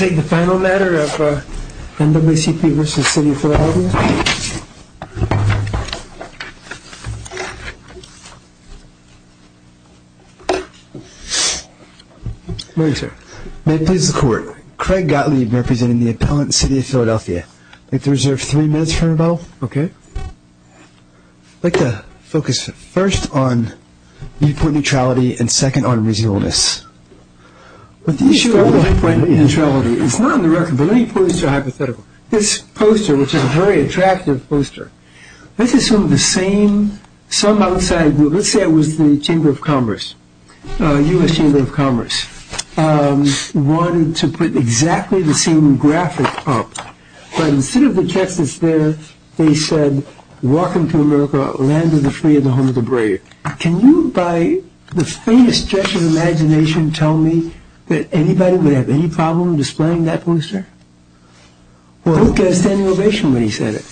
May I take the final matter of NAACP v. City of Philadelphia? May I, sir? May it please the Court. Craig Gottlieb, representing the appellant in the City of Philadelphia. I'd like to reserve three minutes for rebuttal. Okay. I'd like to focus first on viewpoint neutrality and second on reasonableness. With the issue of viewpoint neutrality, it's not on the record, but many points are hypothetical. This poster, which is a very attractive poster, let's assume the same, some outside, let's say it was the Chamber of Commerce, U.S. Chamber of Commerce, wanted to put exactly the same graphic up. But instead of the text that's there, they said, Welcome to America, land of the free and the home of the brave. Can you, by the faintest gesture of imagination, tell me that anybody would have any problem displaying that poster? Who gave a standing ovation when he said it?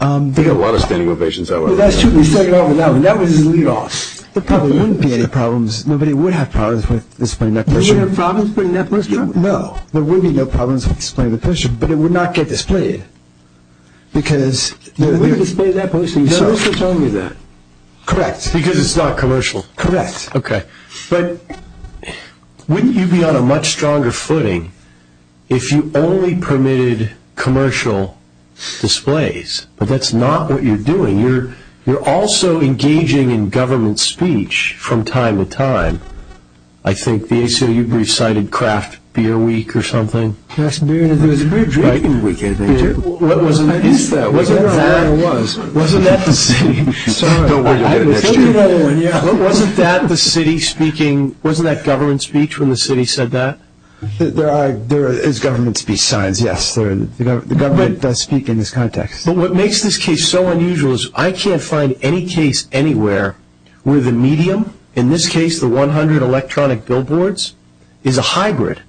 There were a lot of standing ovations, however. That was his lead-off. There probably wouldn't be any problems. Nobody would have problems with displaying that poster. Nobody would have problems with putting that poster up? No. There would be no problems with displaying the poster, but it would not get displayed. You wouldn't display that poster yourself? No, that's what told me that. Correct. Because it's not commercial? Correct. Okay. But wouldn't you be on a much stronger footing if you only permitted commercial displays? But that's not what you're doing. You're also engaging in government speech from time to time. I think the ACLU brief cited Craft Beer Week or something. There was a beer drinking week, I think, too. What was that? I don't know what that was. Wasn't that the city? Don't worry, you'll get an extra. Wasn't that the city speaking? Wasn't that government speech when the city said that? There are government speech signs, yes. The government does speak in this context. But what makes this case so unusual is I can't find any case anywhere where the medium, in this case the 100 electronic billboards, is a hybrid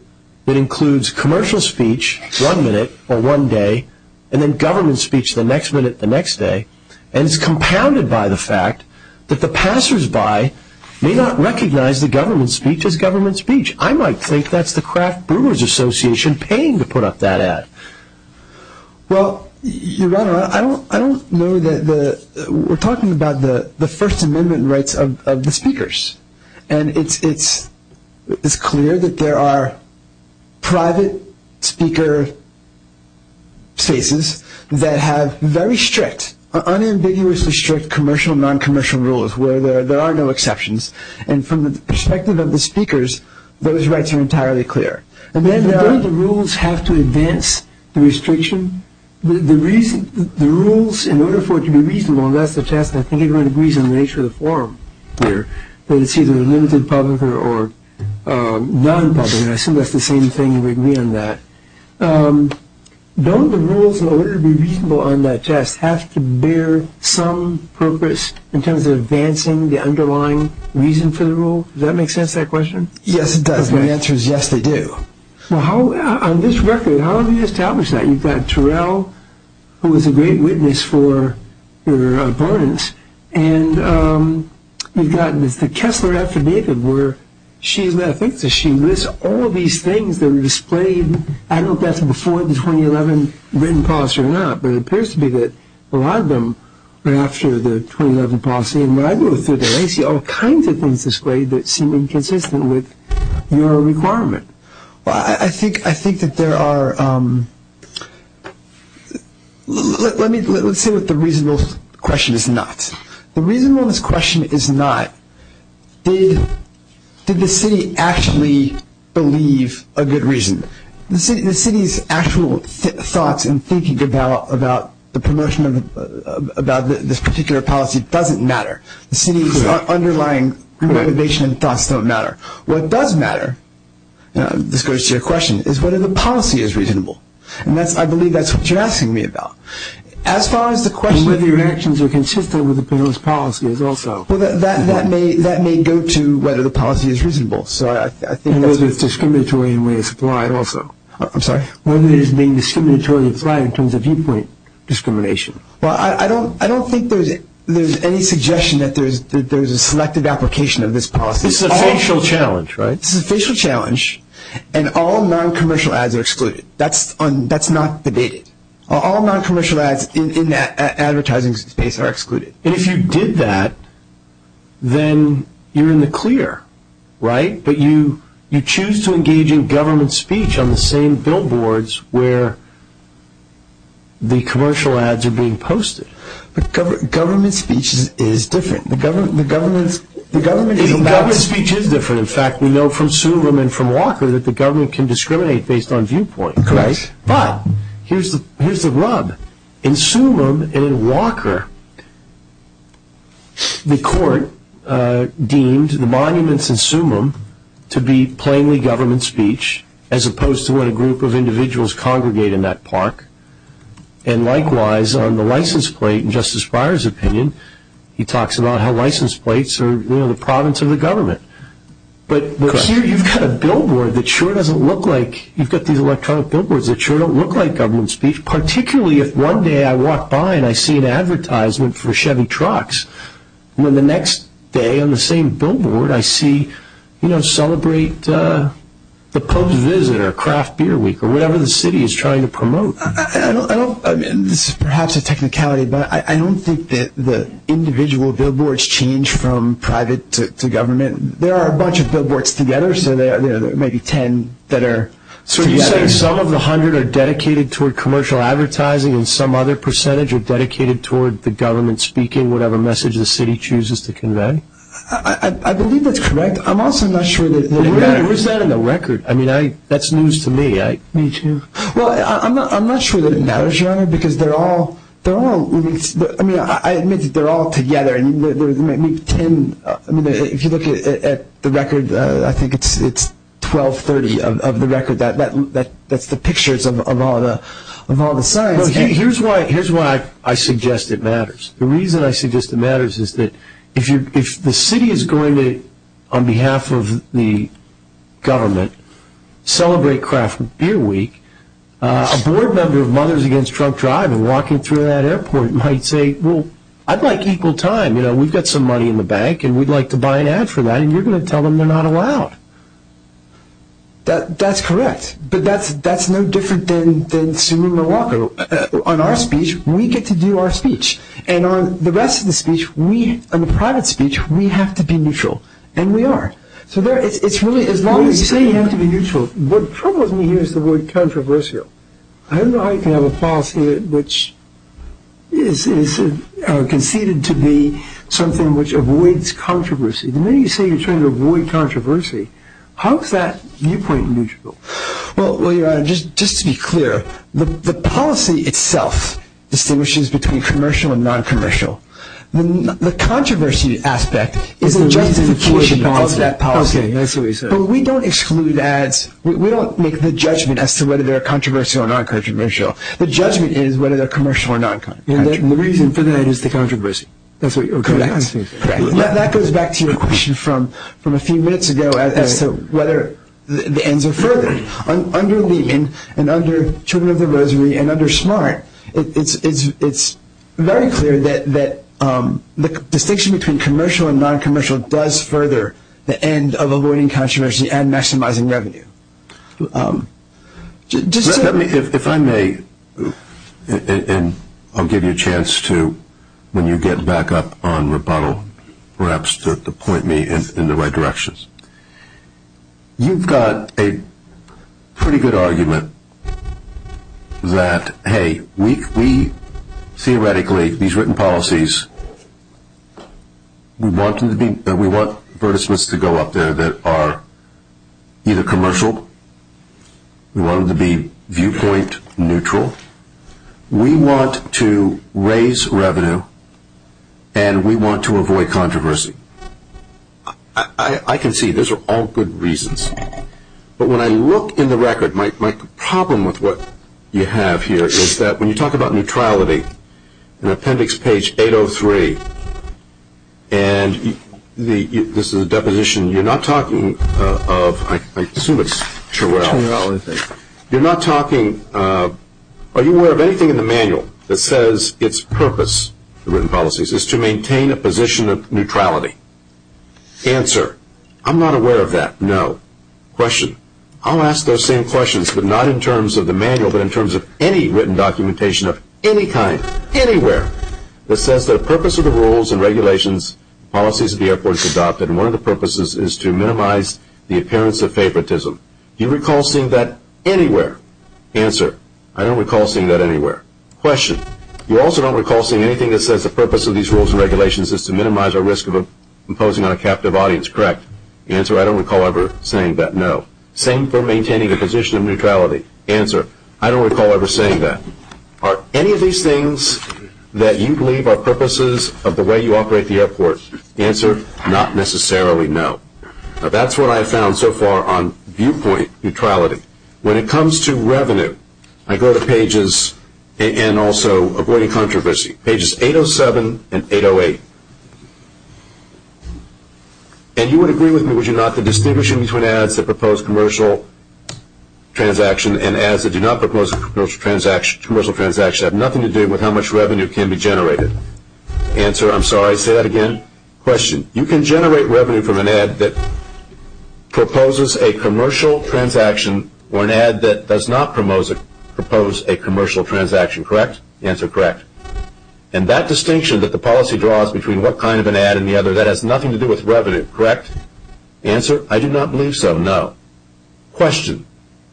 that includes commercial speech one minute or one day, and then government speech the next minute the next day. And it's compounded by the fact that the passersby may not recognize the government speech as government speech. I might think that's the Craft Brewers Association paying to put up that ad. Well, Your Honor, we're talking about the First Amendment rights of the speakers, and it's clear that there are private speaker spaces that have very strict, unambiguously strict, commercial and non-commercial rules where there are no exceptions. And from the perspective of the speakers, those rights are entirely clear. And then don't the rules have to advance the restriction? The rules, in order for it to be reasonable, and that's the test, and I think everyone agrees on the nature of the forum here that it's either a limited public or non-public, and I assume that's the same thing and we agree on that. Don't the rules, in order to be reasonable on that test, have to bear some purpose in terms of advancing the underlying reason for the rule? Does that make sense, that question? Yes, it does. My answer is yes, they do. Well, on this record, how have you established that? You've got Terrell, who was a great witness for your opponents, and you've got the Kessler affidavit where she lists all these things that were displayed. I don't know if that's before the 2011 written policy or not, but it appears to be that a lot of them were after the 2011 policy. And when I go through there, I see all kinds of things displayed that seem inconsistent with your requirement. Well, I think that there are – let's say what the reasonable question is not. The reasonable question is not did the city actually believe a good reason. The city's actual thoughts and thinking about the promotion of this particular policy doesn't matter. The city's underlying motivation and thoughts don't matter. What does matter, this goes to your question, is whether the policy is reasonable. And I believe that's what you're asking me about. As far as the question of – And whether your actions are consistent with the bill's policy is also. That may go to whether the policy is reasonable. Whether it's discriminatory in the way it's applied also. I'm sorry. Whether it is being discriminatory in terms of viewpoint discrimination. Well, I don't think there's any suggestion that there's a selected application of this policy. This is a facial challenge, right? This is a facial challenge, and all non-commercial ads are excluded. That's not debated. All non-commercial ads in the advertising space are excluded. And if you did that, then you're in the clear, right? But you choose to engage in government speech on the same billboards where the commercial ads are being posted. Government speech is different. Government speech is different. In fact, we know from Sulum and from Walker that the government can discriminate based on viewpoint. Correct. But here's the rub. In Sulum and in Walker, the court deemed the monuments in Sulum to be plainly government speech as opposed to what a group of individuals congregate in that park. And likewise, on the license plate in Justice Breyer's opinion, he talks about how license plates are the province of the government. But here you've got a billboard that sure doesn't look like, you've got these electronic billboards that sure don't look like government speech, particularly if one day I walk by and I see an advertisement for Chevy trucks, when the next day on the same billboard I see, you know, celebrate the pub's visit or craft beer week or whatever the city is trying to promote. I mean, this is perhaps a technicality, but I don't think that the individual billboards change from private to government. There are a bunch of billboards together, so there are maybe ten that are together. So you're saying some of the hundred are dedicated toward commercial advertising and some other percentage are dedicated toward the government speaking whatever message the city chooses to convey? I believe that's correct. I'm also not sure that they're all together. Where's that in the record? I mean, that's news to me. Me too. Well, I'm not sure that it matters, Your Honor, because they're all, I mean, I admit that they're all together, and there's maybe ten. If you look at the record, I think it's 1230 of the record. That's the pictures of all the signs. Here's why I suggest it matters. The reason I suggest it matters is that if the city is going to, on behalf of the government, celebrate craft beer week, a board member of Mothers Against Drunk Driving walking through that airport might say, well, I'd like equal time. You know, we've got some money in the bank, and we'd like to buy an ad for that, and you're going to tell them they're not allowed. That's correct, but that's no different than suing Milwaukee. On our speech, we get to do our speech, and on the rest of the speech, on the private speech, we have to be neutral, and we are. So it's really, as long as you say you have to be neutral, what troubles me here is the word controversial. I don't know how you can have a policy which is conceded to be something which avoids controversy. The minute you say you're trying to avoid controversy, how is that viewpoint neutral? Well, Your Honor, just to be clear, the policy itself distinguishes between commercial and noncommercial. The controversy aspect is a justification of that policy. Okay, that's what he said. But we don't exclude ads. We don't make the judgment as to whether they're controversial or non-controversial. The judgment is whether they're commercial or non-commercial. And the reason for that is the controversy. Correct. That goes back to your question from a few minutes ago as to whether the ends are furthered. Under Lehman and under Children of the Rosary and under Smart, it's very clear that the distinction between commercial and noncommercial does further the end of avoiding controversy and maximizing revenue. If I may, and I'll give you a chance to, when you get back up on rebuttal, perhaps to point me in the right direction, you've got a pretty good argument that, hey, we theoretically, these written policies, we want them to be, we want advertisements to go up there that are either commercial, we want them to be viewpoint neutral, we want to raise revenue, and we want to avoid controversy. I can see those are all good reasons. But when I look in the record, my problem with what you have here is that when you talk about neutrality, in appendix page 803, and this is a deposition, you're not talking of, I assume it's Turrell, you're not talking, are you aware of anything in the manual that says its purpose, the written policies, is to maintain a position of neutrality? Answer, I'm not aware of that, no. Question, I'll ask those same questions, but not in terms of the manual, but in terms of any written documentation of any kind, anywhere, that says the purpose of the rules and regulations, policies of the airport is adopted, and one of the purposes is to minimize the appearance of favoritism. Do you recall seeing that anywhere? Answer, I don't recall seeing that anywhere. Question, you also don't recall seeing anything that says the purpose of these rules and regulations is to minimize our risk of imposing on a captive audience, correct? Answer, I don't recall ever saying that, no. Same for maintaining a position of neutrality. Answer, I don't recall ever saying that. Are any of these things that you believe are purposes of the way you operate the airport? Answer, not necessarily, no. That's what I've found so far on viewpoint neutrality. When it comes to revenue, I go to pages, and also avoiding controversy, pages 807 and 808. And you would agree with me, would you not, that distinguishing between ads that propose commercial transactions and ads that do not propose commercial transactions have nothing to do with how much revenue can be generated? Answer, I'm sorry, say that again. Question, you can generate revenue from an ad that proposes a commercial transaction or an ad that does not propose a commercial transaction, correct? Answer, correct. And that distinction that the policy draws between what kind of an ad and the other, that has nothing to do with revenue, correct? Answer, I do not believe so, no. Question,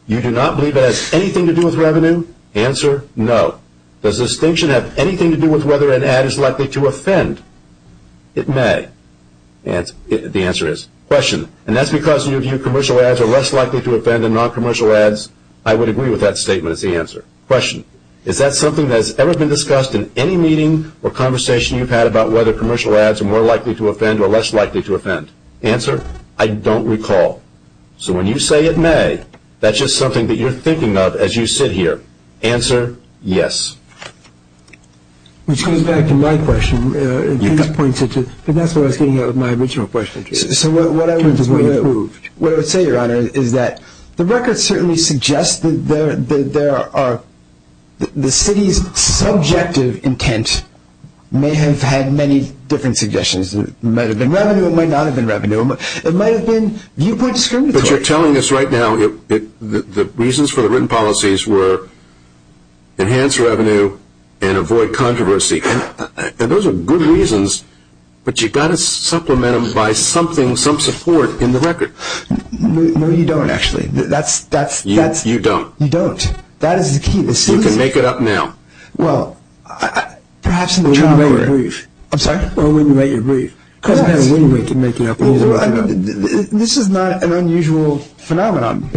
you do not believe that it has anything to do with revenue? Answer, no. Does distinction have anything to do with whether an ad is likely to offend? It may. The answer is, question, and that's because in your view commercial ads are less likely to offend than non-commercial ads? I would agree with that statement as the answer. Question, is that something that has ever been discussed in any meeting or conversation you've had about whether commercial ads are more likely to offend or less likely to offend? Answer, I don't recall. So when you say it may, that's just something that you're thinking of as you sit here. Answer, yes. Which goes back to my question, because that's what I was getting at with my original question. So what I would say, Your Honor, is that the record certainly suggests that the city's subjective intent may have had many different suggestions. It might have been revenue, it might not have been revenue. It might have been viewpoint discriminatory. But you're telling us right now the reasons for the written policies were enhance revenue and avoid controversy. And those are good reasons, No, you don't, actually. You don't. You don't. That is the key. You can make it up now. Well, perhaps in the way you make it brief. I'm sorry? Well, when you make it brief. Because I don't have a way to make it up. This is not an unusual phenomenon.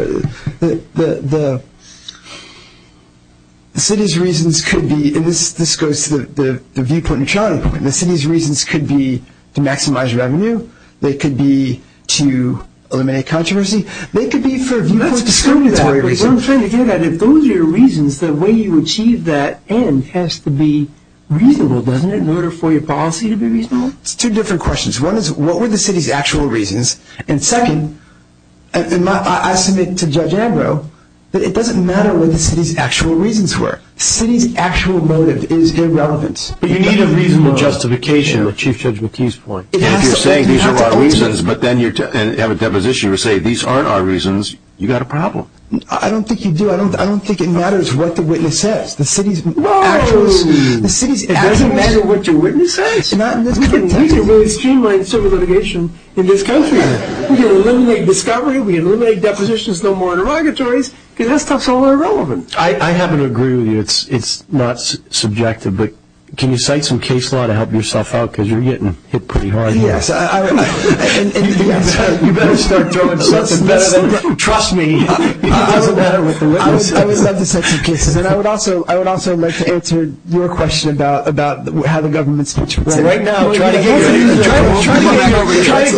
The city's reasons could be, and this goes to the viewpoint and Charlie point, the city's reasons could be to maximize revenue. They could be to eliminate controversy. They could be for viewpoint discriminatory reasons. Well, I'm trying to get at it. Those are your reasons. The way you achieve that end has to be reasonable, doesn't it, in order for your policy to be reasonable? It's two different questions. One is, what were the city's actual reasons? And second, I submit to Judge Ambrose that it doesn't matter what the city's actual reasons were. The city's actual motive is irrelevance. But you need a reasonable justification, Chief Judge McKee's point. If you're saying these are our reasons, but then you have a deposition where you say these aren't our reasons, you've got a problem. I don't think you do. I don't think it matters what the witness says. The city's actual reasons. It doesn't matter what your witness says. We can really streamline civil litigation in this country. We can eliminate discovery. We can eliminate depositions. No more interrogatories. Because that stuff's all irrelevant. I happen to agree with you. It's not subjective. But can you cite some case law to help yourself out? Because you're getting hit pretty hard here. Yes. You better start throwing something better than that. Trust me. It doesn't matter what the witness says. I would love to cite some cases. And I would also like to answer your question about how the government speaks. Well, right now, try to get your own life. Try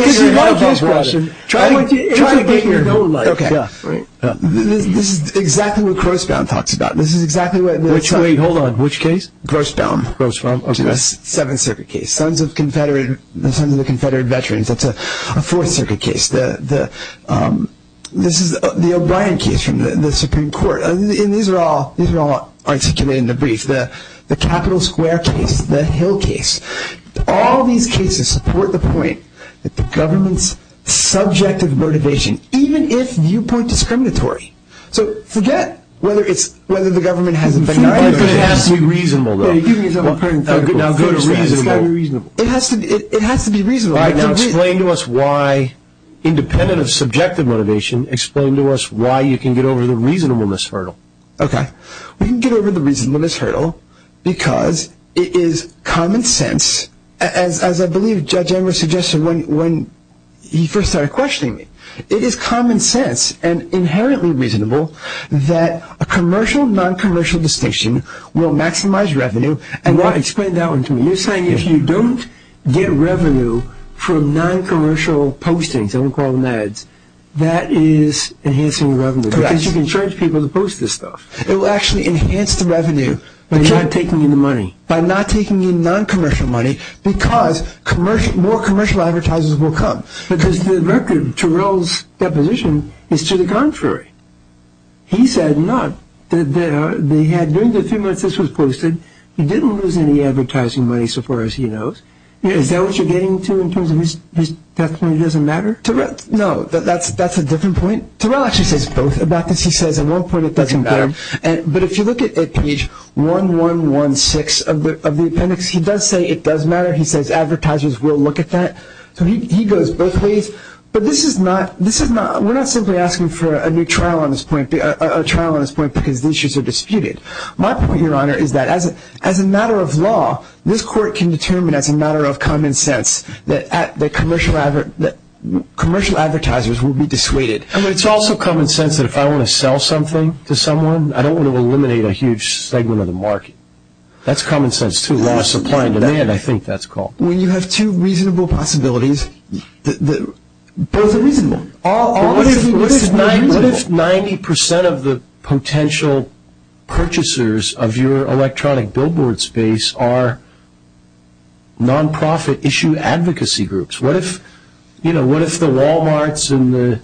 to get your own life. Try to get your own life. Okay. This is exactly what Crossbound talks about. This is exactly what Crossbound talks about. Wait, hold on. Which case? Crossbound. Okay. Seventh Circuit case. Sons of Confederate Veterans. That's a Fourth Circuit case. This is the O'Brien case from the Supreme Court. And these are all articulated in the brief. The Capitol Square case. The Hill case. All these cases support the point that the government's subjective motivation, even if viewpoint discriminatory. So forget whether the government has objective motivation. It has to be reasonable, though. It has to be reasonable. Explain to us why, independent of subjective motivation, explain to us why you can get over the reasonableness hurdle. Okay. We can get over the reasonableness hurdle because it is common sense, as I believe Judge Emmer suggested when he first started questioning me. It is common sense and inherently reasonable that a commercial, non-commercial distinction will maximize revenue. Explain that one to me. You're saying if you don't get revenue from non-commercial postings, and we call them ads, that is enhancing revenue. Because you can charge people to post this stuff. It will actually enhance the revenue by not taking in the money. By not taking in non-commercial money because more commercial advertisers will come. Because the record, Terrell's deposition, is to the contrary. He said not. They had, during the few months this was posted, he didn't lose any advertising money so far as he knows. Is that what you're getting to in terms of his testimony doesn't matter? No, that's a different point. Terrell actually says both about this. He says at one point it doesn't matter. But if you look at page 1116 of the appendix, he does say it does matter. He says advertisers will look at that. So he goes both ways. But this is not, we're not simply asking for a new trial on this point, a trial on this point because these issues are disputed. My point, Your Honor, is that as a matter of law, this court can determine as a matter of common sense that commercial advertisers will be dissuaded. But it's also common sense that if I want to sell something to someone, I don't want to eliminate a huge segment of the market. That's common sense, too. I think that's called. When you have two reasonable possibilities, both are reasonable. What if 90% of the potential purchasers of your electronic billboard space are nonprofit issue advocacy groups? What if the Walmarts and the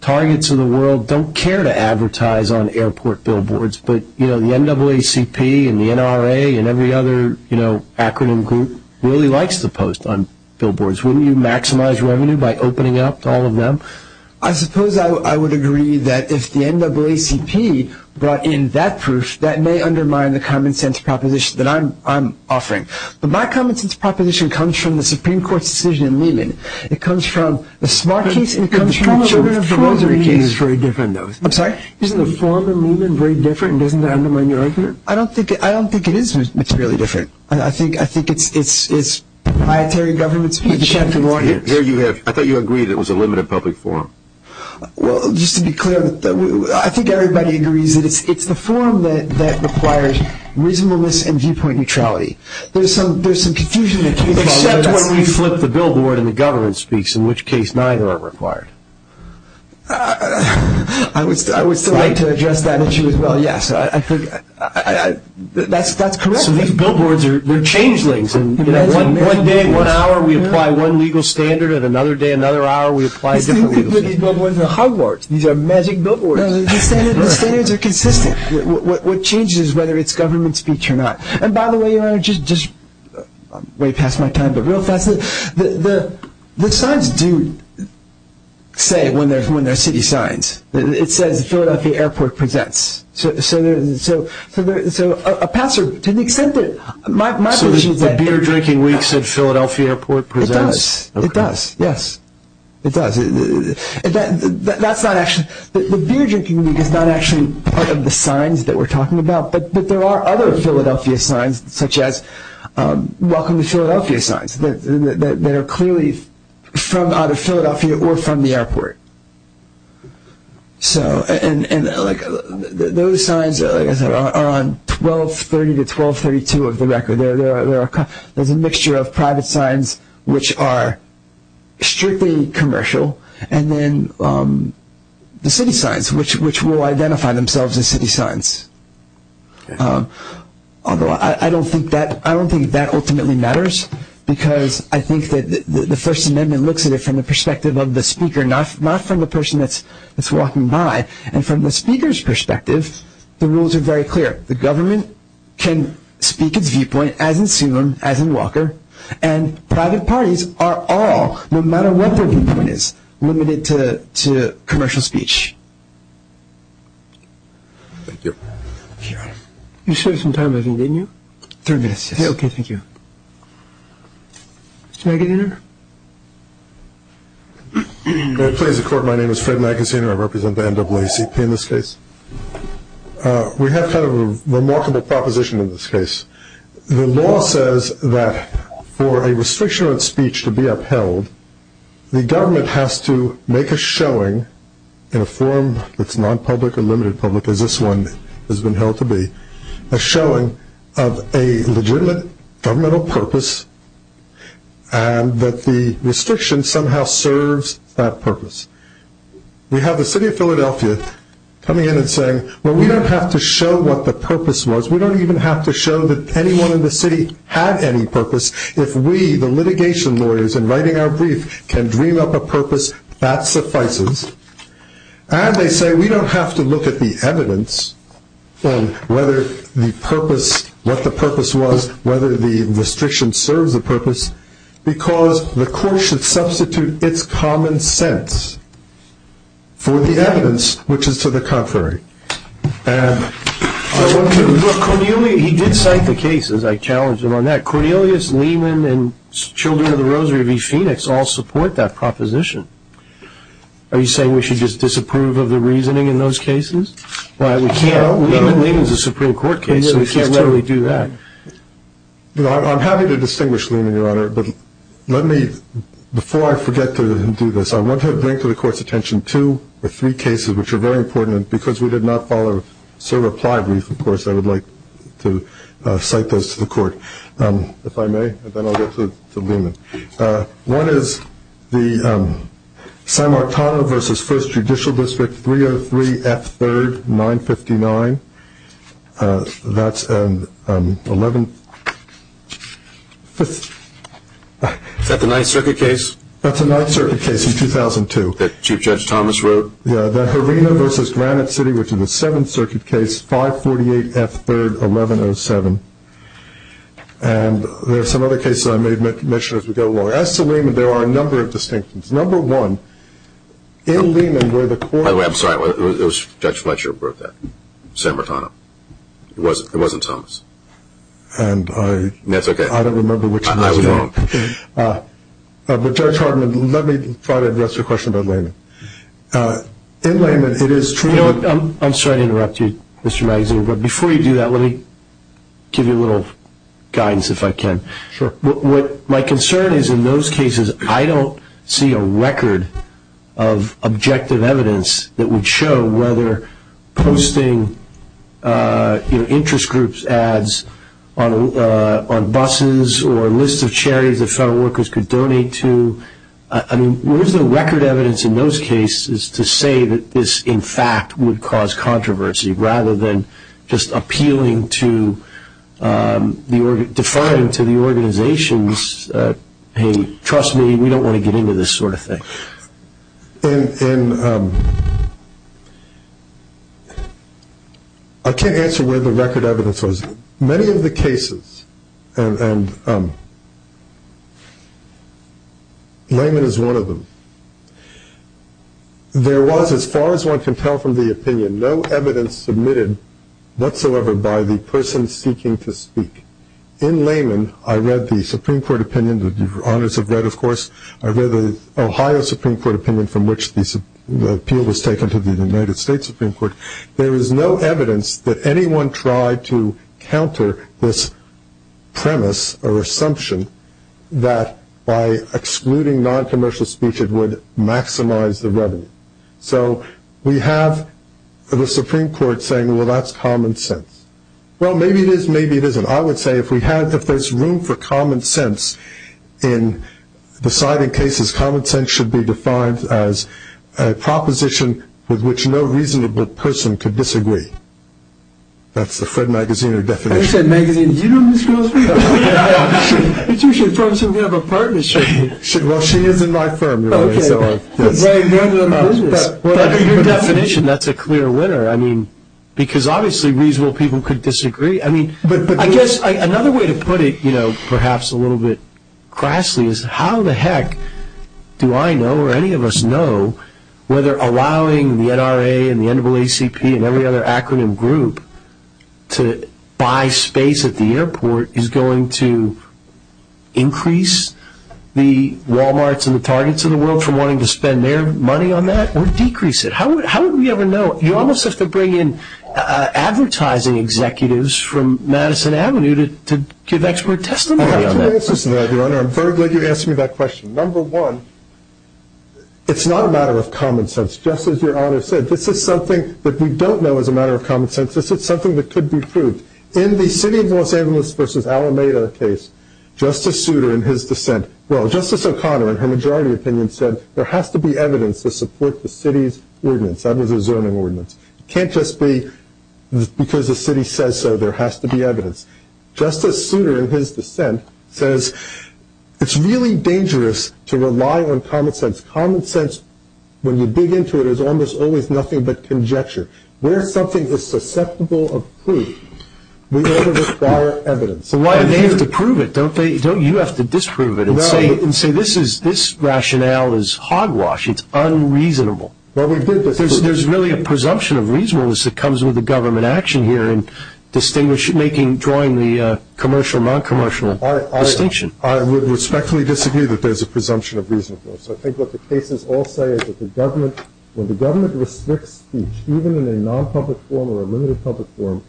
Targets of the World don't care to advertise on airport billboards, but the NAACP and the NRA and every other acronym group really likes to post on billboards? Wouldn't you maximize revenue by opening up to all of them? I suppose I would agree that if the NAACP brought in that proof, that may undermine the common sense proposition that I'm offering. But my common sense proposition comes from the Supreme Court's decision in Lehman. It comes from the Smart case, it comes from the Children of Poverty case. I'm sorry, isn't the form in Lehman very different and doesn't that undermine your argument? I don't think it is. It's really different. I think it's proprietary government speech. I thought you agreed it was a limited public forum. Well, just to be clear, I think everybody agrees that it's the forum that requires reasonableness and viewpoint neutrality. There's some confusion. Except when we flip the billboard and the government speaks, in which case neither are required. I would still like to address that issue as well, yes. That's correct. So these billboards are changelings. One day, one hour we apply one legal standard and another day, another hour we apply a different legal standard. These billboards are Hogwarts. These are magic billboards. The standards are consistent. What changes is whether it's government speech or not. By the way, Your Honor, just way past my time, but real fast. The signs do say when there are city signs. It says Philadelphia Airport presents. So a passer, to the extent that my position is that... So the beer drinking week said Philadelphia Airport presents? It does. It does, yes. It does. The beer drinking week is not actually part of the signs that we're talking about, but there are other Philadelphia signs such as welcome to Philadelphia signs that are clearly from out of Philadelphia or from the airport. So those signs are on 1230 to 1232 of the record. There's a mixture of private signs which are strictly commercial and then the city signs which will identify themselves as city signs. Although I don't think that ultimately matters because I think that the First Amendment looks at it from the perspective of the speaker, not from the person that's walking by. And from the speaker's perspective, the rules are very clear. The government can speak its viewpoint as in Sulum, as in Walker, and private parties are all, no matter what their viewpoint is, limited to commercial speech. Thank you. You saved some time, I think, didn't you? Three minutes, yes. Okay, thank you. Mr. Magaziner? May it please the Court, my name is Fred Magaziner. I represent the NAACP in this case. We have kind of a remarkable proposition in this case. The law says that for a restriction on speech to be upheld, the government has to make a showing in a form that's non-public or limited public, as this one has been held to be, a showing of a legitimate governmental purpose and that the restriction somehow serves that purpose. We have the city of Philadelphia coming in and saying, well, we don't have to show what the purpose was. We don't even have to show that anyone in the city had any purpose. If we, the litigation lawyers, in writing our brief, can dream up a purpose, that suffices. And they say we don't have to look at the evidence and what the purpose was, whether the restriction serves a purpose, because the Court should substitute its common sense for the evidence, which is to the contrary. Look, Cornelius, he did cite the cases. I challenged him on that. Cornelius, Lehman, and Children of the Rosary v. Phoenix all support that proposition. Are you saying we should just disapprove of the reasoning in those cases? We can't. Lehman is a Supreme Court case, so we can't let him do that. I'm happy to distinguish Lehman, Your Honor, but let me, before I forget to do this, I want to bring to the Court's attention two or three cases which are very important because we did not follow Sir replied brief, of course. I would like to cite those to the Court, if I may, and then I'll get to Lehman. One is the San Martano v. First Judicial District, 303 F. 3rd, 959. That's an 11th... Is that the Ninth Circuit case? That's the Ninth Circuit case in 2002. That Chief Judge Thomas wrote? Yeah, the Herena v. Granite City, which is a Seventh Circuit case, 548 F. 3rd, 1107. And there are some other cases I may mention as we go along. As to Lehman, there are a number of distinctions. Number one, in Lehman where the Court... By the way, I'm sorry. It was Judge Fletcher who wrote that, San Martano. It wasn't Thomas. And I... That's okay. I don't remember which one was it. I won't. But, Judge Hartman, let me try to address your question about Lehman. In Lehman, it is true... You know what? I'm sorry to interrupt you, Mr. Magazine. But before you do that, let me give you a little guidance, if I can. Sure. What my concern is in those cases, I don't see a record of objective evidence that would show whether posting interest groups' ads on buses or lists of charities that federal workers could donate to... I mean, where is the record evidence in those cases to say that this, in fact, would cause controversy rather than just appealing to the... deferring to the organizations, hey, trust me, we don't want to get into this sort of thing? In... I can't answer where the record evidence was. In many of the cases, and Lehman is one of them, there was, as far as one can tell from the opinion, no evidence submitted whatsoever by the person seeking to speak. In Lehman, I read the Supreme Court opinion that you've read, of course. I read the Ohio Supreme Court opinion from which the appeal was taken to the United States Supreme Court. There is no evidence that anyone tried to counter this premise or assumption that by excluding noncommercial speech it would maximize the revenue. So we have the Supreme Court saying, well, that's common sense. Well, maybe it is, maybe it isn't. I would say if we had... if there's room for common sense in deciding cases, common sense should be defined as a proposition with which no reasonable person could disagree. That's the Fred Magaziner definition. You said Magaziner. Do you know who this girl is? It's usually the person we have a partnership with. Well, she is in my firm. But your definition, that's a clear winner. I mean, because obviously reasonable people could disagree. I guess another way to put it, perhaps a little bit crassly, is how the heck do I know or any of us know whether allowing the NRA and the NAACP and every other acronym group to buy space at the airport is going to increase the Walmarts and the Targets of the World from wanting to spend their money on that or decrease it? How would we ever know? You almost have to bring in advertising executives from Madison Avenue to give expert testimony on that. I have two answers to that, Your Honor. I'm very glad you asked me that question. Number one, it's not a matter of common sense. Just as Your Honor said, this is something that we don't know is a matter of common sense. This is something that could be proved. In the city of Los Angeles versus Alameda case, Justice Souter in his dissent... well, Justice O'Connor in her majority opinion said there has to be evidence to support the city's ordinance. That was a zoning ordinance. It can't just be because the city says so, there has to be evidence. Justice Souter in his dissent says it's really dangerous to rely on common sense. Common sense, when you dig into it, is almost always nothing but conjecture. Where something is susceptible of proof, we ought to require evidence. And they have to prove it, don't they? You have to disprove it and say, this rationale is hogwash, it's unreasonable. There's really a presumption of reasonableness that comes with the government action here in drawing the commercial and non-commercial distinction. I would respectfully disagree that there's a presumption of reasonableness. I think what the cases all say is that when the government restricts speech, even in a non-public forum or a limited public forum,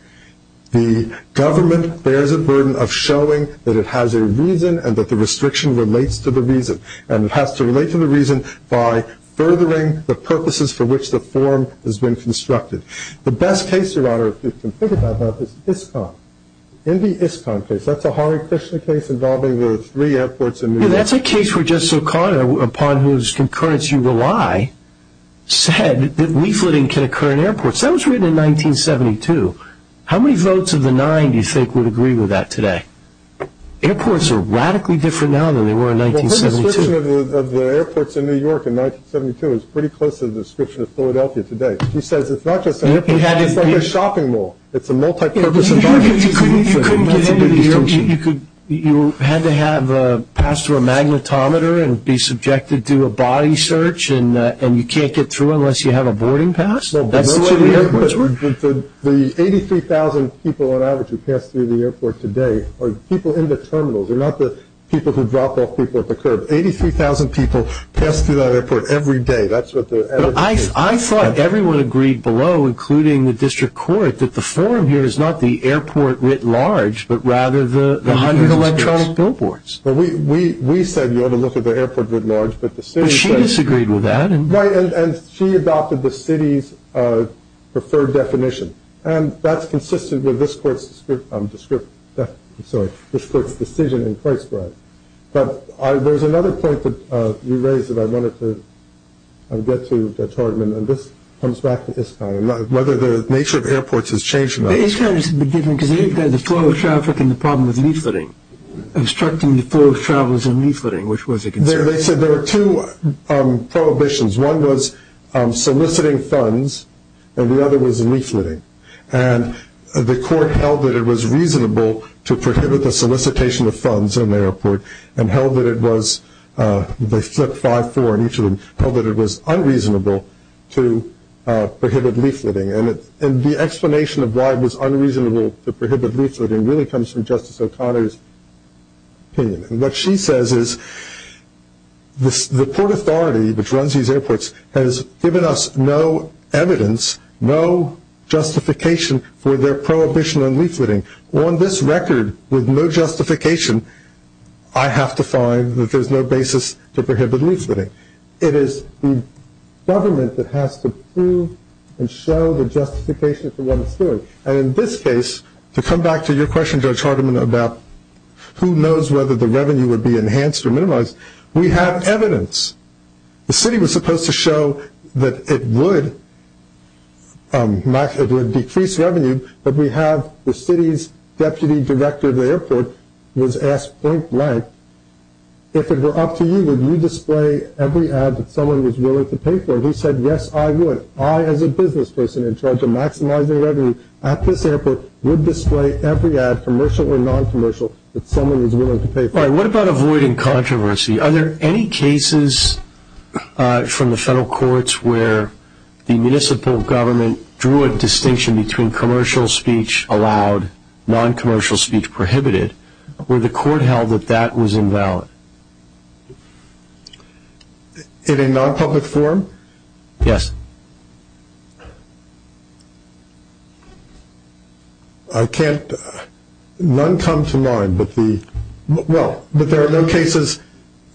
the government bears a burden of showing that it has a reason and that the restriction relates to the reason. And it has to relate to the reason by furthering the purposes for which the forum has been constructed. The best case, Your Honor, if you can think about that, is ISCOM. In the ISCOM case, that's a Harry Kushner case involving the three airports in New York. That's a case where Justice O'Connor, upon whose concurrence you rely, said that leafleting can occur in airports. That was written in 1972. How many votes of the nine do you think would agree with that today? Airports are radically different now than they were in 1972. The description of the airports in New York in 1972 is pretty close to the description of Philadelphia today. He says it's not just an airport. It's like a shopping mall. It's a multi-purpose environment. You couldn't get into these things. You had to pass through a magnetometer and be subjected to a body search, and you can't get through unless you have a boarding pass? The 83,000 people on average who pass through the airport today are people in the terminals. They're not the people who drop off people at the curb. Eighty-three thousand people pass through that airport every day. I thought everyone agreed below, including the district court, that the forum here is not the airport writ large, but rather the hundred electronic billboards. We said you ought to look at the airport writ large. But she disagreed with that. Right, and she adopted the city's preferred definition, and that's consistent with this court's decision in Christbride. But there's another point that you raised that I wanted to get to, Judge Hartman, and this comes back to Iskander, whether the nature of airports has changed. Iskander's a bit different because they've got the flow of traffic and the problem with leafleting, obstructing the flow of travelers and leafleting, which was a concern. They said there were two prohibitions. One was soliciting funds, and the other was leafleting. And the court held that it was reasonable to prohibit the solicitation of funds in the airport and held that it was unreasonable to prohibit leafleting. And the explanation of why it was unreasonable to prohibit leafleting really comes from Justice O'Connor's opinion. What she says is the Port Authority, which runs these airports, has given us no evidence, no justification for their prohibition on leafleting. On this record, with no justification, I have to find that there's no basis to prohibit leafleting. It is the government that has to prove and show the justification for what it's doing. And in this case, to come back to your question, Judge Hardiman, about who knows whether the revenue would be enhanced or minimized, we have evidence. The city was supposed to show that it would decrease revenue, but we have the city's deputy director of the airport was asked point blank, if it were up to you, would you display every ad that someone was willing to pay for? He said, yes, I would. He said, I, as a business person in charge of maximizing revenue at this airport, would display every ad, commercial or noncommercial, that someone was willing to pay for. All right, what about avoiding controversy? Are there any cases from the federal courts where the municipal government drew a distinction between commercial speech allowed, noncommercial speech prohibited? Were the court held that that was invalid? In a nonpublic forum? Yes. I can't, none come to mind, but the, well, but there are no cases.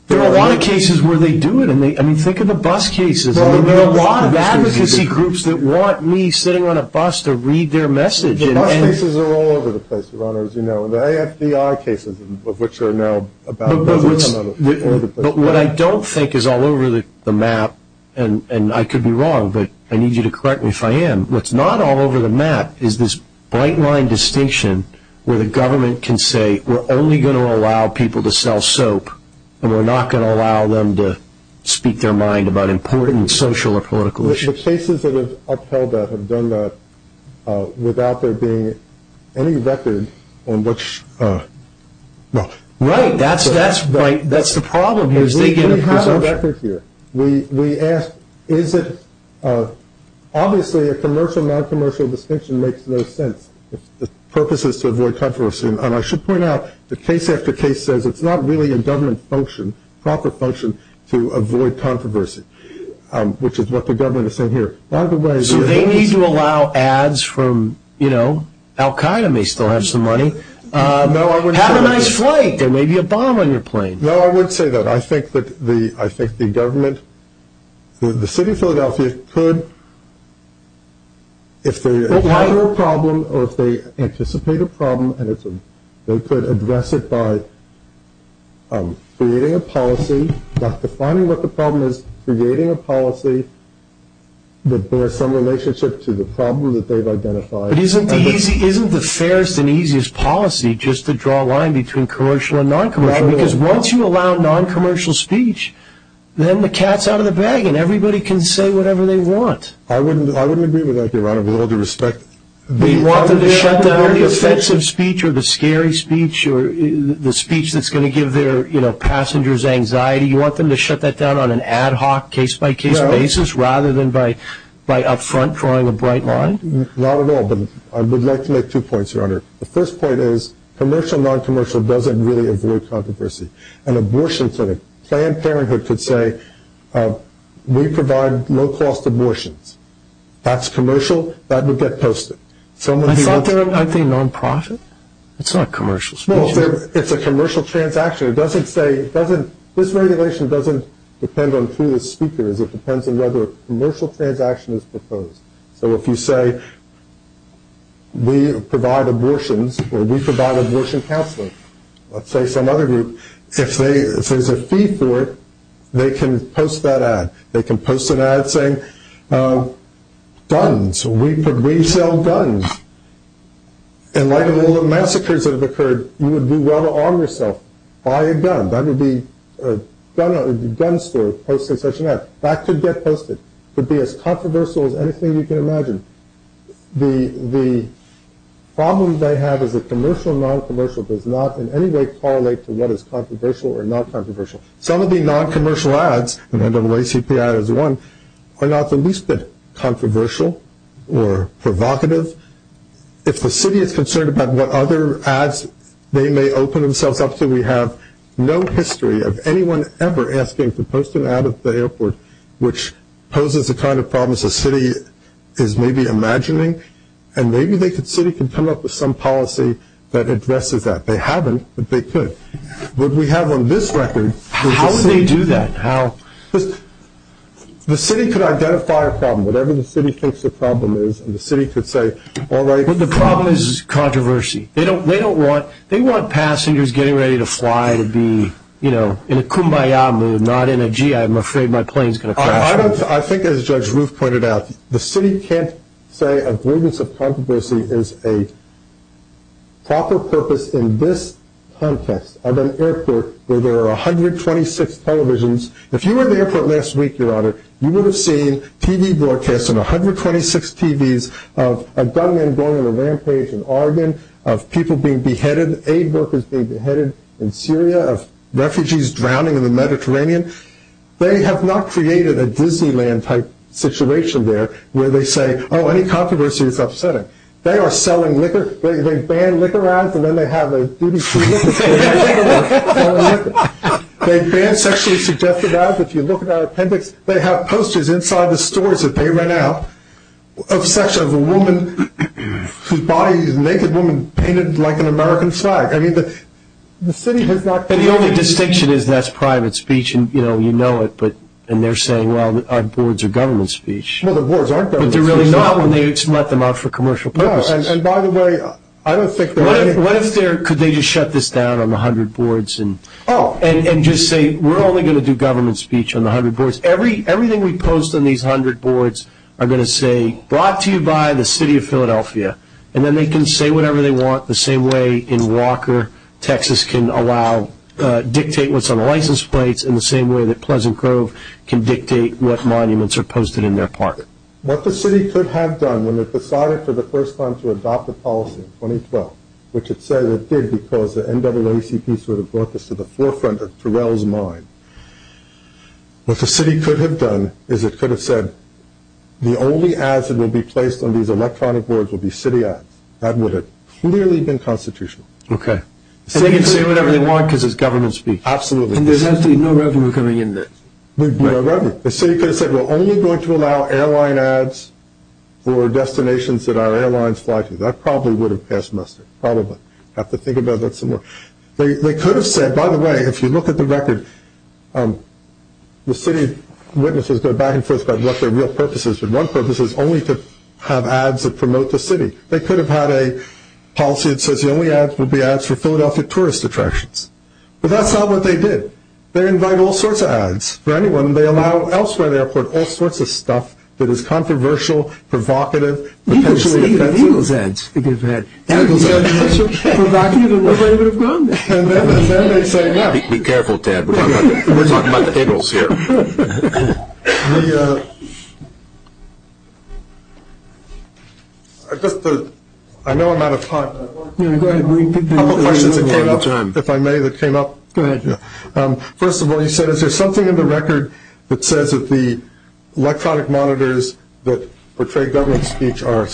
There are a lot of cases where they do it. I mean, think of the bus cases. There are a lot of advocacy groups that want me sitting on a bus to read their message. Bus cases are all over the place, Your Honor, as you know, and the AFDI cases of which are now about a dozen or so. But what I don't think is all over the map, and I could be wrong, but I need you to correct me if I am, what's not all over the map is this bright line distinction where the government can say, we're only going to allow people to sell soap and we're not going to allow them to speak their mind about important social or political issues. The cases that have upheld that have done that without there being any record on which, no. Right. That's the problem here is they get a presumption. We have an effort here. We ask, is it, obviously a commercial, noncommercial distinction makes no sense. The purpose is to avoid controversy, and I should point out the case after case says it's not really a government function, proper function, to avoid controversy, which is what the government is saying here. By the way. So they need to allow ads from, you know, Al-Qaeda may still have some money. Have a nice flight. There may be a bomb on your plane. No, I wouldn't say that. I think the government, the city of Philadelphia could, if they have a problem, or if they anticipate a problem, they could address it by creating a policy, not defining what the problem is, creating a policy that bears some relationship to the problem that they've identified. But isn't the fairest and easiest policy just to draw a line between commercial and noncommercial? Right. Because once you allow noncommercial speech, then the cat's out of the bag, and everybody can say whatever they want. I wouldn't agree with that, Your Honor, with all due respect. You want them to shut down the offensive speech or the scary speech or the speech that's going to give their, you know, passengers anxiety? You want them to shut that down on an ad hoc, case-by-case basis rather than by up front drawing a bright line? Not at all. But I would like to make two points, Your Honor. The first point is commercial and noncommercial doesn't really avoid controversy. An abortion clinic, Planned Parenthood could say, we provide low-cost abortions. That's commercial. That would get posted. I thought they were a non-profit. It's not commercial. It's a commercial transaction. It doesn't say, it doesn't, this regulation doesn't depend on who the speaker is. It depends on whether a commercial transaction is proposed. So if you say, we provide abortions or we provide abortion counseling, let's say some other group, if there's a fee for it, they can post that ad. They can post an ad saying, guns, we sell guns. In light of all the massacres that have occurred, you would do well to arm yourself. Buy a gun. That would be a gun store posting such an ad. That could get posted. It could be as controversial as anything you can imagine. The problem they have is that commercial and noncommercial does not in any way correlate to what is controversial or not controversial. Some of the noncommercial ads, and NAACP ad is one, are not the least bit controversial or provocative. If the city is concerned about what other ads they may open themselves up to, we have no history of anyone ever asking to post an ad at the airport, which poses the kind of problems the city is maybe imagining, and maybe the city can come up with some policy that addresses that. They haven't, but they could. What we have on this record is the city. How would they do that? The city could identify a problem, whatever the city thinks the problem is, and the city could say, all right. But the problem is controversy. They don't want passengers getting ready to fly to be, you know, in a kumbaya mood, not in a, gee, I'm afraid my plane's going to crash. I think, as Judge Roof pointed out, the city can't say avoidance of controversy is a proper purpose in this context of an airport where there are 126 televisions. If you were at the airport last week, Your Honor, you would have seen TV broadcasts and 126 TVs of a gunman going on a rampage in Oregon, of people being beheaded, aid workers being beheaded in Syria, of refugees drowning in the Mediterranean. They have not created a Disneyland-type situation there where they say, oh, any controversy is upsetting. They are selling liquor. They ban liquor ads, and then they have a duty to sell liquor. They ban sexually suggested ads. If you look at our appendix, they have posters inside the stores that they ran out of sexual, of a woman whose body, a naked woman, painted like an American flag. I mean, the city has not created this. But the only distinction is that's private speech, and, you know, you know it, and they're saying, well, our boards are government speech. Well, the boards aren't government speech. But they're really not when they let them out for commercial purposes. No, and by the way, I don't think they're going to. What if they're, could they just shut this down on 100 boards and just say, we're only going to do government speech on the 100 boards. Everything we post on these 100 boards are going to say, brought to you by the city of Philadelphia. And then they can say whatever they want the same way in Walker, Texas, can allow dictate what's on license plates in the same way that Pleasant Grove can dictate what monuments are posted in their park. What the city could have done when it decided for the first time to adopt a policy in 2012, which it said it did because the NAACP sort of brought this to the forefront of Terrell's mind. What the city could have done is it could have said, the only ads that will be placed on these electronic boards will be city ads. That would have clearly been constitutional. Okay. And they can say whatever they want because it's government speech. Absolutely. And there's actually no revenue coming in there. No revenue. The city could have said, we're only going to allow airline ads for destinations that our airlines fly to. That probably would have passed muster, probably. Have to think about that some more. They could have said, by the way, if you look at the record, the city witnesses go back and forth about what their real purpose is, but one purpose is only to have ads that promote the city. They could have had a policy that says the only ads will be ads for Philadelphia tourist attractions. But that's not what they did. They invite all sorts of ads for anyone. They allow elsewhere at the airport all sorts of stuff that is controversial, provocative, potentially offensive. And then they say, no. Be careful, Ted. We're talking about the giggles here. I know I'm out of time. Go ahead. If I may, that came up. Go ahead. First of all, you said, there's something in the record that says that the electronic monitors that portray government speech are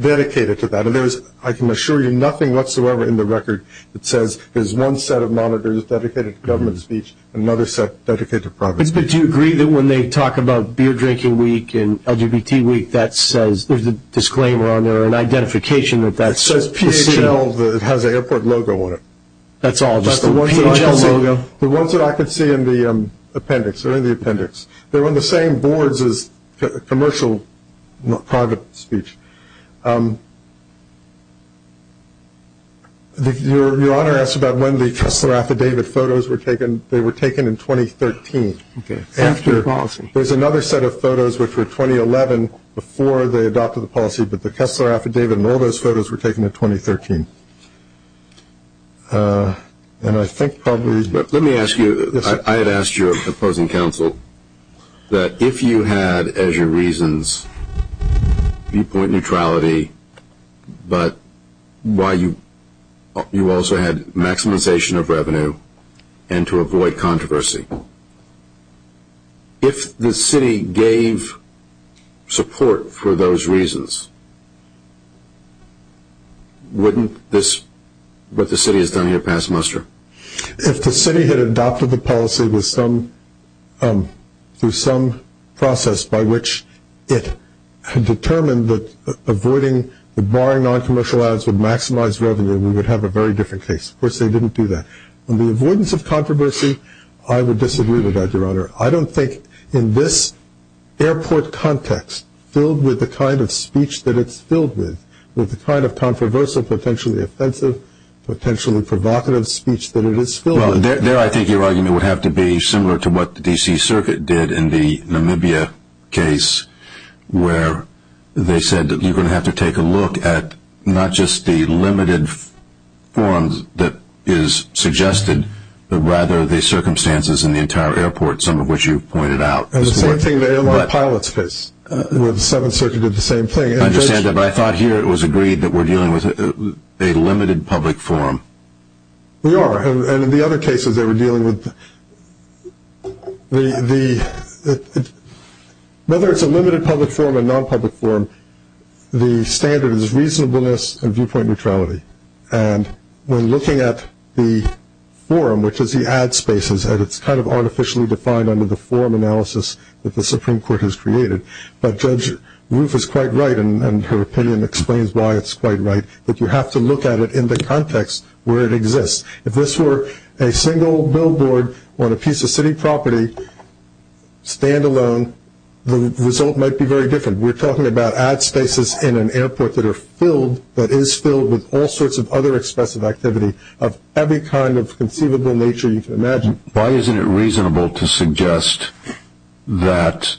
dedicated to that. And I can assure you nothing whatsoever in the record that says there's one set of monitors dedicated to government speech and another set dedicated to private speech. But do you agree that when they talk about beer drinking week and LGBT week, there's a disclaimer on there, an identification of that? It says PHL. It has the airport logo on it. That's all, just the PHL logo? No, the ones that I could see in the appendix. They're in the appendix. They're on the same boards as commercial private speech. Your Honor asked about when the Kessler Affidavit photos were taken. They were taken in 2013. Okay. After the policy. There's another set of photos which were 2011 before they adopted the policy, but the Kessler Affidavit and all those photos were taken in 2013. Let me ask you, I had asked your opposing counsel that if you had, as your reasons, viewpoint neutrality, but you also had maximization of revenue and to avoid controversy, if the city gave support for those reasons, wouldn't this, what the city has done here, pass muster? If the city had adopted the policy through some process by which it had determined that avoiding, barring noncommercial ads would maximize revenue, we would have a very different case. Of course, they didn't do that. On the avoidance of controversy, I would disagree with that, Your Honor. I don't think in this airport context filled with the kind of speech that it's filled with, with the kind of controversial, potentially offensive, potentially provocative speech that it is filled with. Well, there I think your argument would have to be similar to what the D.C. Circuit did in the Namibia case where they said that you're going to have to take a look at not just the limited forms that is suggested, but rather the circumstances in the entire airport, some of which you've pointed out. It's the same thing in the airline pilot's case where the Seventh Circuit did the same thing. I understand that, but I thought here it was agreed that we're dealing with a limited public forum. We are. And in the other cases they were dealing with, whether it's a limited public forum or a nonpublic forum, the standard is reasonableness and viewpoint neutrality. And when looking at the forum, which is the ad spaces, and it's kind of artificially defined under the forum analysis that the Supreme Court has created, but Judge Roof is quite right, and her opinion explains why it's quite right, that you have to look at it in the context where it exists. If this were a single billboard on a piece of city property, stand alone, the result might be very different. We're talking about ad spaces in an airport that is filled with all sorts of other expressive activity of every kind of conceivable nature you can imagine. Why isn't it reasonable to suggest that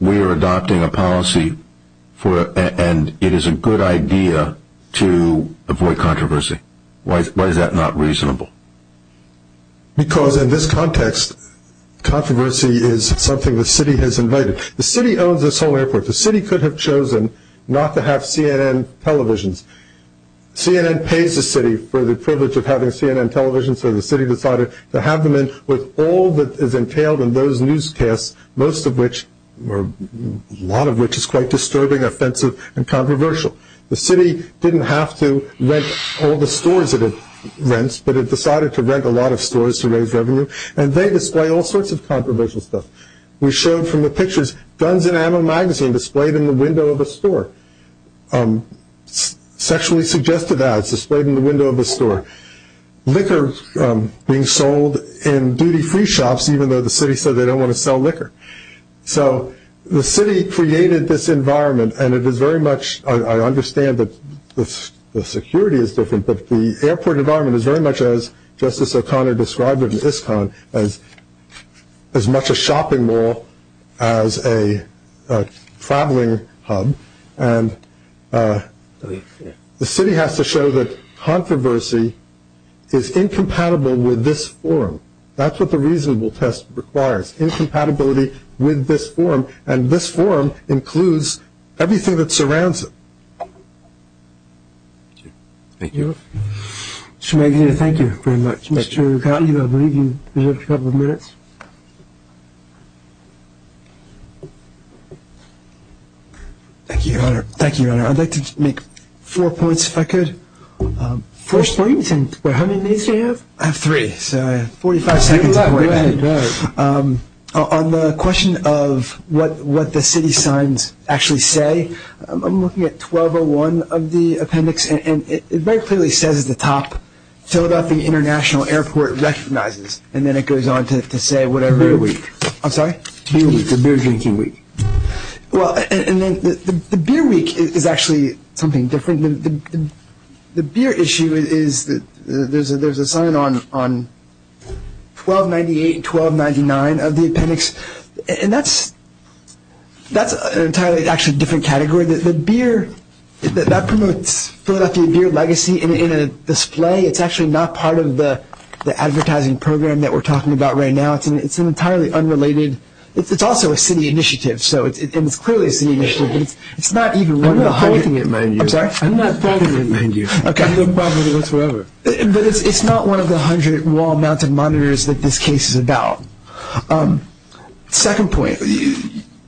we are adopting a policy and it is a good idea to avoid controversy? Why is that not reasonable? Because in this context, controversy is something the city has invited. The city owns this whole airport. The city could have chosen not to have CNN televisions. CNN pays the city for the privilege of having CNN televisions, so the city decided to have them in with all that is entailed in those newscasts, most of which, or a lot of which, is quite disturbing, offensive, and controversial. The city didn't have to rent all the stores that it rents, but it decided to rent a lot of stores to raise revenue, and they display all sorts of controversial stuff. We showed from the pictures guns in ammo magazine displayed in the window of a store, sexually suggested ads displayed in the window of a store, liquor being sold in duty-free shops even though the city said they don't want to sell liquor. So the city created this environment, and it is very much, I understand that the security is different, but the airport environment is very much, as Justice O'Connor described it in ISCON, as much a shopping mall as a traveling hub, and the city has to show that controversy is incompatible with this forum. That's what the reasonable test requires. Incompatibility with this forum, and this forum includes everything that surrounds it. Thank you. Mr. McNeil, thank you very much. Mr. O'Connor, I believe you have a couple of minutes. Thank you, Your Honor. Thank you, Your Honor. I'd like to make four points, if I could. Four points? How many minutes do you have? I have three, so I have 45 seconds. On the question of what the city signs actually say, I'm looking at 1201 of the appendix, and it very clearly says at the top, Philadelphia International Airport recognizes, and then it goes on to say whatever. Beer Week. I'm sorry? Beer Week, the Beer Drinking Week. Well, and then the Beer Week is actually something different. The beer issue is that there's a sign on 1298 and 1299 of the appendix, and that's an entirely actually different category. The beer, that promotes Philadelphia beer legacy in a display. It's actually not part of the advertising program that we're talking about right now. It's an entirely unrelated. It's also a city initiative, and it's clearly a city initiative. It's not even one of the 100 wall-mounted monitors that this case is about. Second point,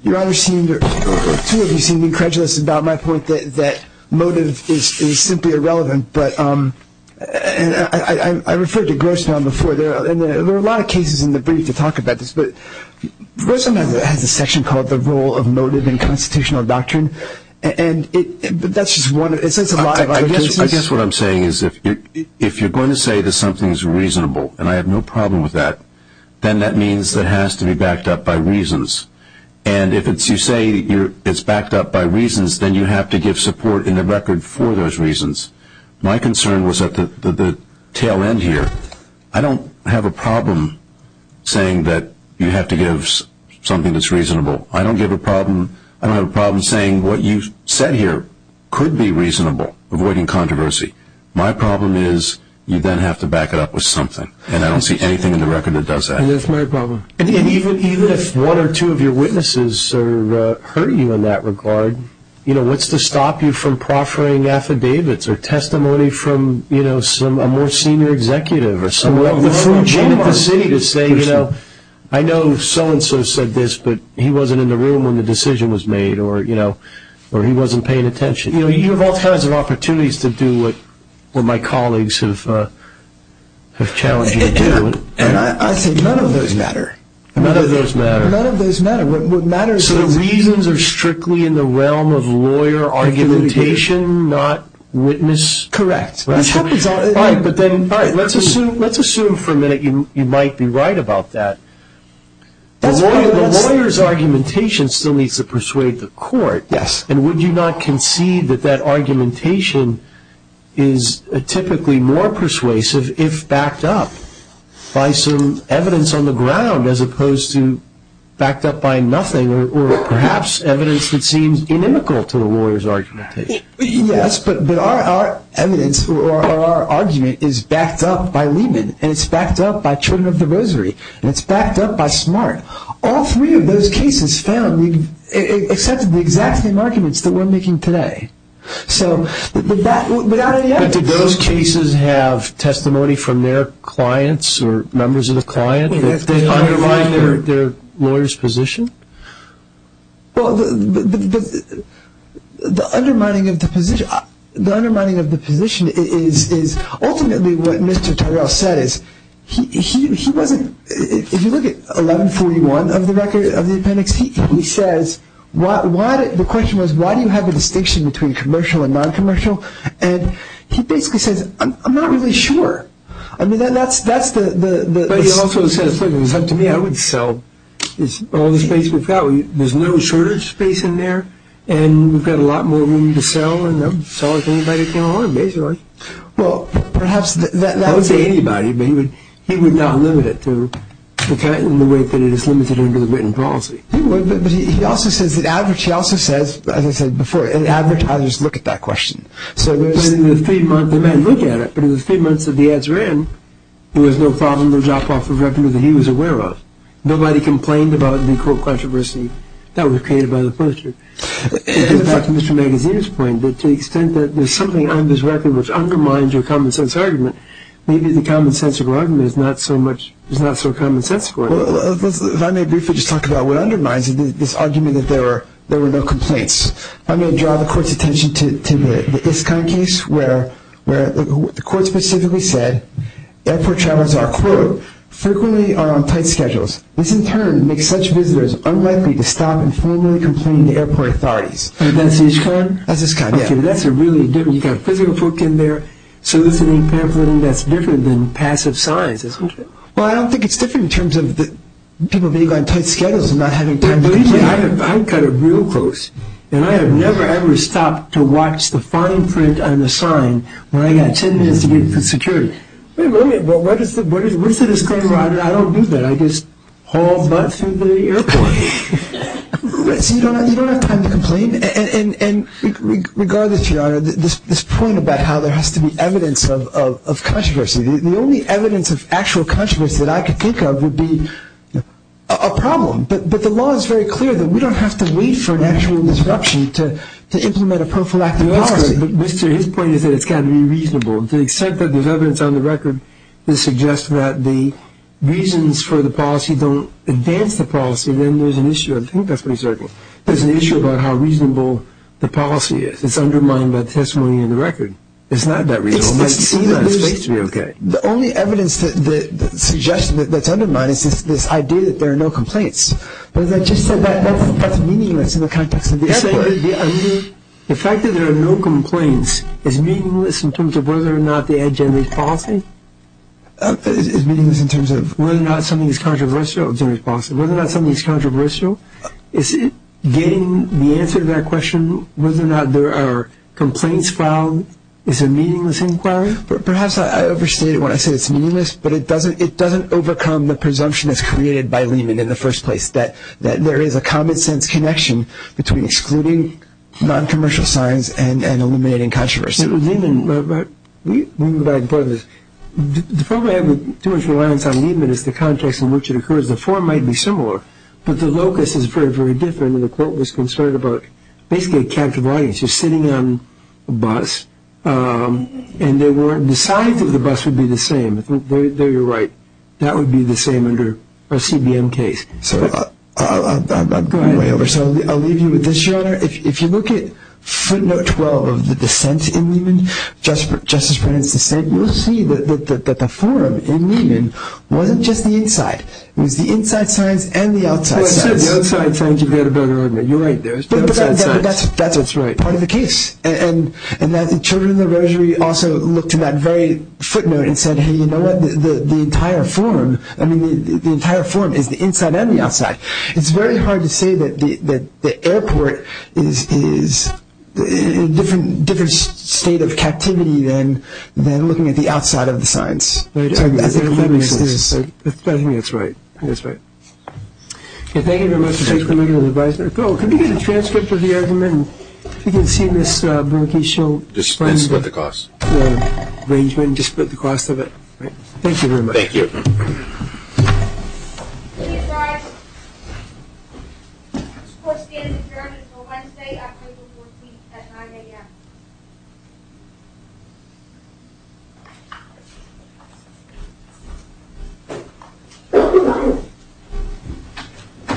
Your Honor, two of you seemed incredulous about my point that motive is simply irrelevant, but I referred to Grossman before, and there are a lot of cases in the brief to talk about this, but Grossman has a section called The Role of Motive in Constitutional Doctrine, and that's just one of it. It says a lot of other cases. I guess what I'm saying is if you're going to say that something's reasonable, and I have no problem with that, then that means it has to be backed up by reasons, and if you say it's backed up by reasons, then you have to give support in the record for those reasons. My concern was at the tail end here. I don't have a problem saying that you have to give something that's reasonable. I don't have a problem saying what you've said here could be reasonable, avoiding controversy. My problem is you then have to back it up with something, and I don't see anything in the record that does that. That's my problem. Even if one or two of your witnesses hurt you in that regard, what's to stop you from proffering affidavits or testimony from a more senior executive or someone? I know so-and-so said this, but he wasn't in the room when the decision was made, or he wasn't paying attention. You have all kinds of opportunities to do what my colleagues have challenged you to do. I say none of those matter. None of those matter. None of those matter. So the reasons are strictly in the realm of lawyer argumentation, not witness? Correct. Let's assume for a minute you might be right about that. The lawyer's argumentation still needs to persuade the court, and would you not concede that that argumentation is typically more persuasive if backed up by some evidence on the ground as opposed to backed up by nothing or perhaps evidence that seems inimical to the lawyer's argumentation? Yes, but our evidence or our argument is backed up by Lehman, and it's backed up by Children of the Rosary, and it's backed up by Smart. All three of those cases found accepted the exact same arguments that we're making today. But did those cases have testimony from their clients or members of the client? Did they undermine their lawyer's position? Well, the undermining of the position is ultimately what Mr. Tyrell said. If you look at 1141 of the appendix, the question was why do you have a distinction between commercial and noncommercial, and he basically says I'm not really sure. But he also says, look, to me I would sell all the space we've got. There's no shortage space in there, and we've got a lot more room to sell, and I'd sell it to anybody who came along, basically. I wouldn't say anybody, but he would not limit it in the way that it is limited under the written policy. He also says, as I said before, advertisers look at that question. They may look at it, but in the three months that the ads ran, there was no problem, no drop-off of revenue that he was aware of. Nobody complained about the controversy that was created by the poster. To get back to Mr. Magaziner's point, to the extent that there's something on this record which undermines your common-sense argument, maybe the common-sensical argument is not so common-sensical. If I may briefly just talk about what undermines it, this argument that there were no complaints. I'm going to draw the court's attention to the ISCON case where the court specifically said, airport travelers are, quote, frequently on tight schedules. This in turn makes such visitors unlikely to stop and formally complain to airport authorities. That's ISCON? That's ISCON, yeah. Okay, but that's a really good one. You've got a physical book in there soliciting pamphleting that's different than passive signs, isn't it? Well, I don't think it's different in terms of people being on tight schedules and not having time to reach out. I've got it real close, and I have never, ever stopped to watch the fine print on the sign when I've got ten minutes to get to security. Wait a minute, what's the disclaimer on it? I don't do that. I just haul butt through the airport. So you don't have time to complain? And regardless, Your Honor, this point about how there has to be evidence of controversy, the only evidence of actual controversy that I could think of would be a problem. But the law is very clear that we don't have to wait for an actual disruption to implement a prophylactic policy. But, Mr., his point is that it's got to be reasonable. To accept that there's evidence on the record that suggests that the reasons for the policy don't advance the policy, then there's an issue. I think that's what he's talking about. There's an issue about how reasonable the policy is. It's undermined by the testimony in the record. It's not that reasonable. It seems that it's faked to be okay. The only evidence that suggests that it's undermined is this idea that there are no complaints. But as I just said, that's meaningless in the context of the effort. The fact that there are no complaints is meaningless in terms of whether or not they had generated policy? It's meaningless in terms of? Whether or not something is controversial. Whether or not something is controversial. Is it getting the answer to that question, whether or not there are complaints filed, is a meaningless inquiry? Perhaps I overstated when I said it's meaningless, but it doesn't overcome the presumption that's created by Lehman in the first place, that there is a common-sense connection between excluding non-commercial signs and eliminating controversy. Lehman, by the way, the problem I have with too much reliance on Lehman is the context in which it occurs. The four might be similar, but the locus is very, very different. Basically a captive audience. You're sitting on a bus, and they weren't deciding that the bus would be the same. There you're right. That would be the same under a CBM case. I'm going way over, so I'll leave you with this, Your Honor. If you look at footnote 12 of the dissent in Lehman, Justice Brennan's dissent, you'll see that the forum in Lehman wasn't just the inside. It was the inside signs and the outside signs. The outside signs you've got a better argument. You're right. There's the outside signs. That's part of the case. And the children of the Rosary also looked at that very footnote and said, hey, you know what, the entire forum is the inside and the outside. It's very hard to say that the airport is a different state of captivity than looking at the outside of the signs. That makes sense. I think that's right. That's right. Thank you very much for taking the time to advise us. Oh, can we get a transcript of the argument? If you can see Ms. Brunke's show. Just split the cost. Arrangement, just split the cost of it. Thank you very much. Thank you. Please rise. This court stands adjourned until Wednesday, April 14th at 9 a.m.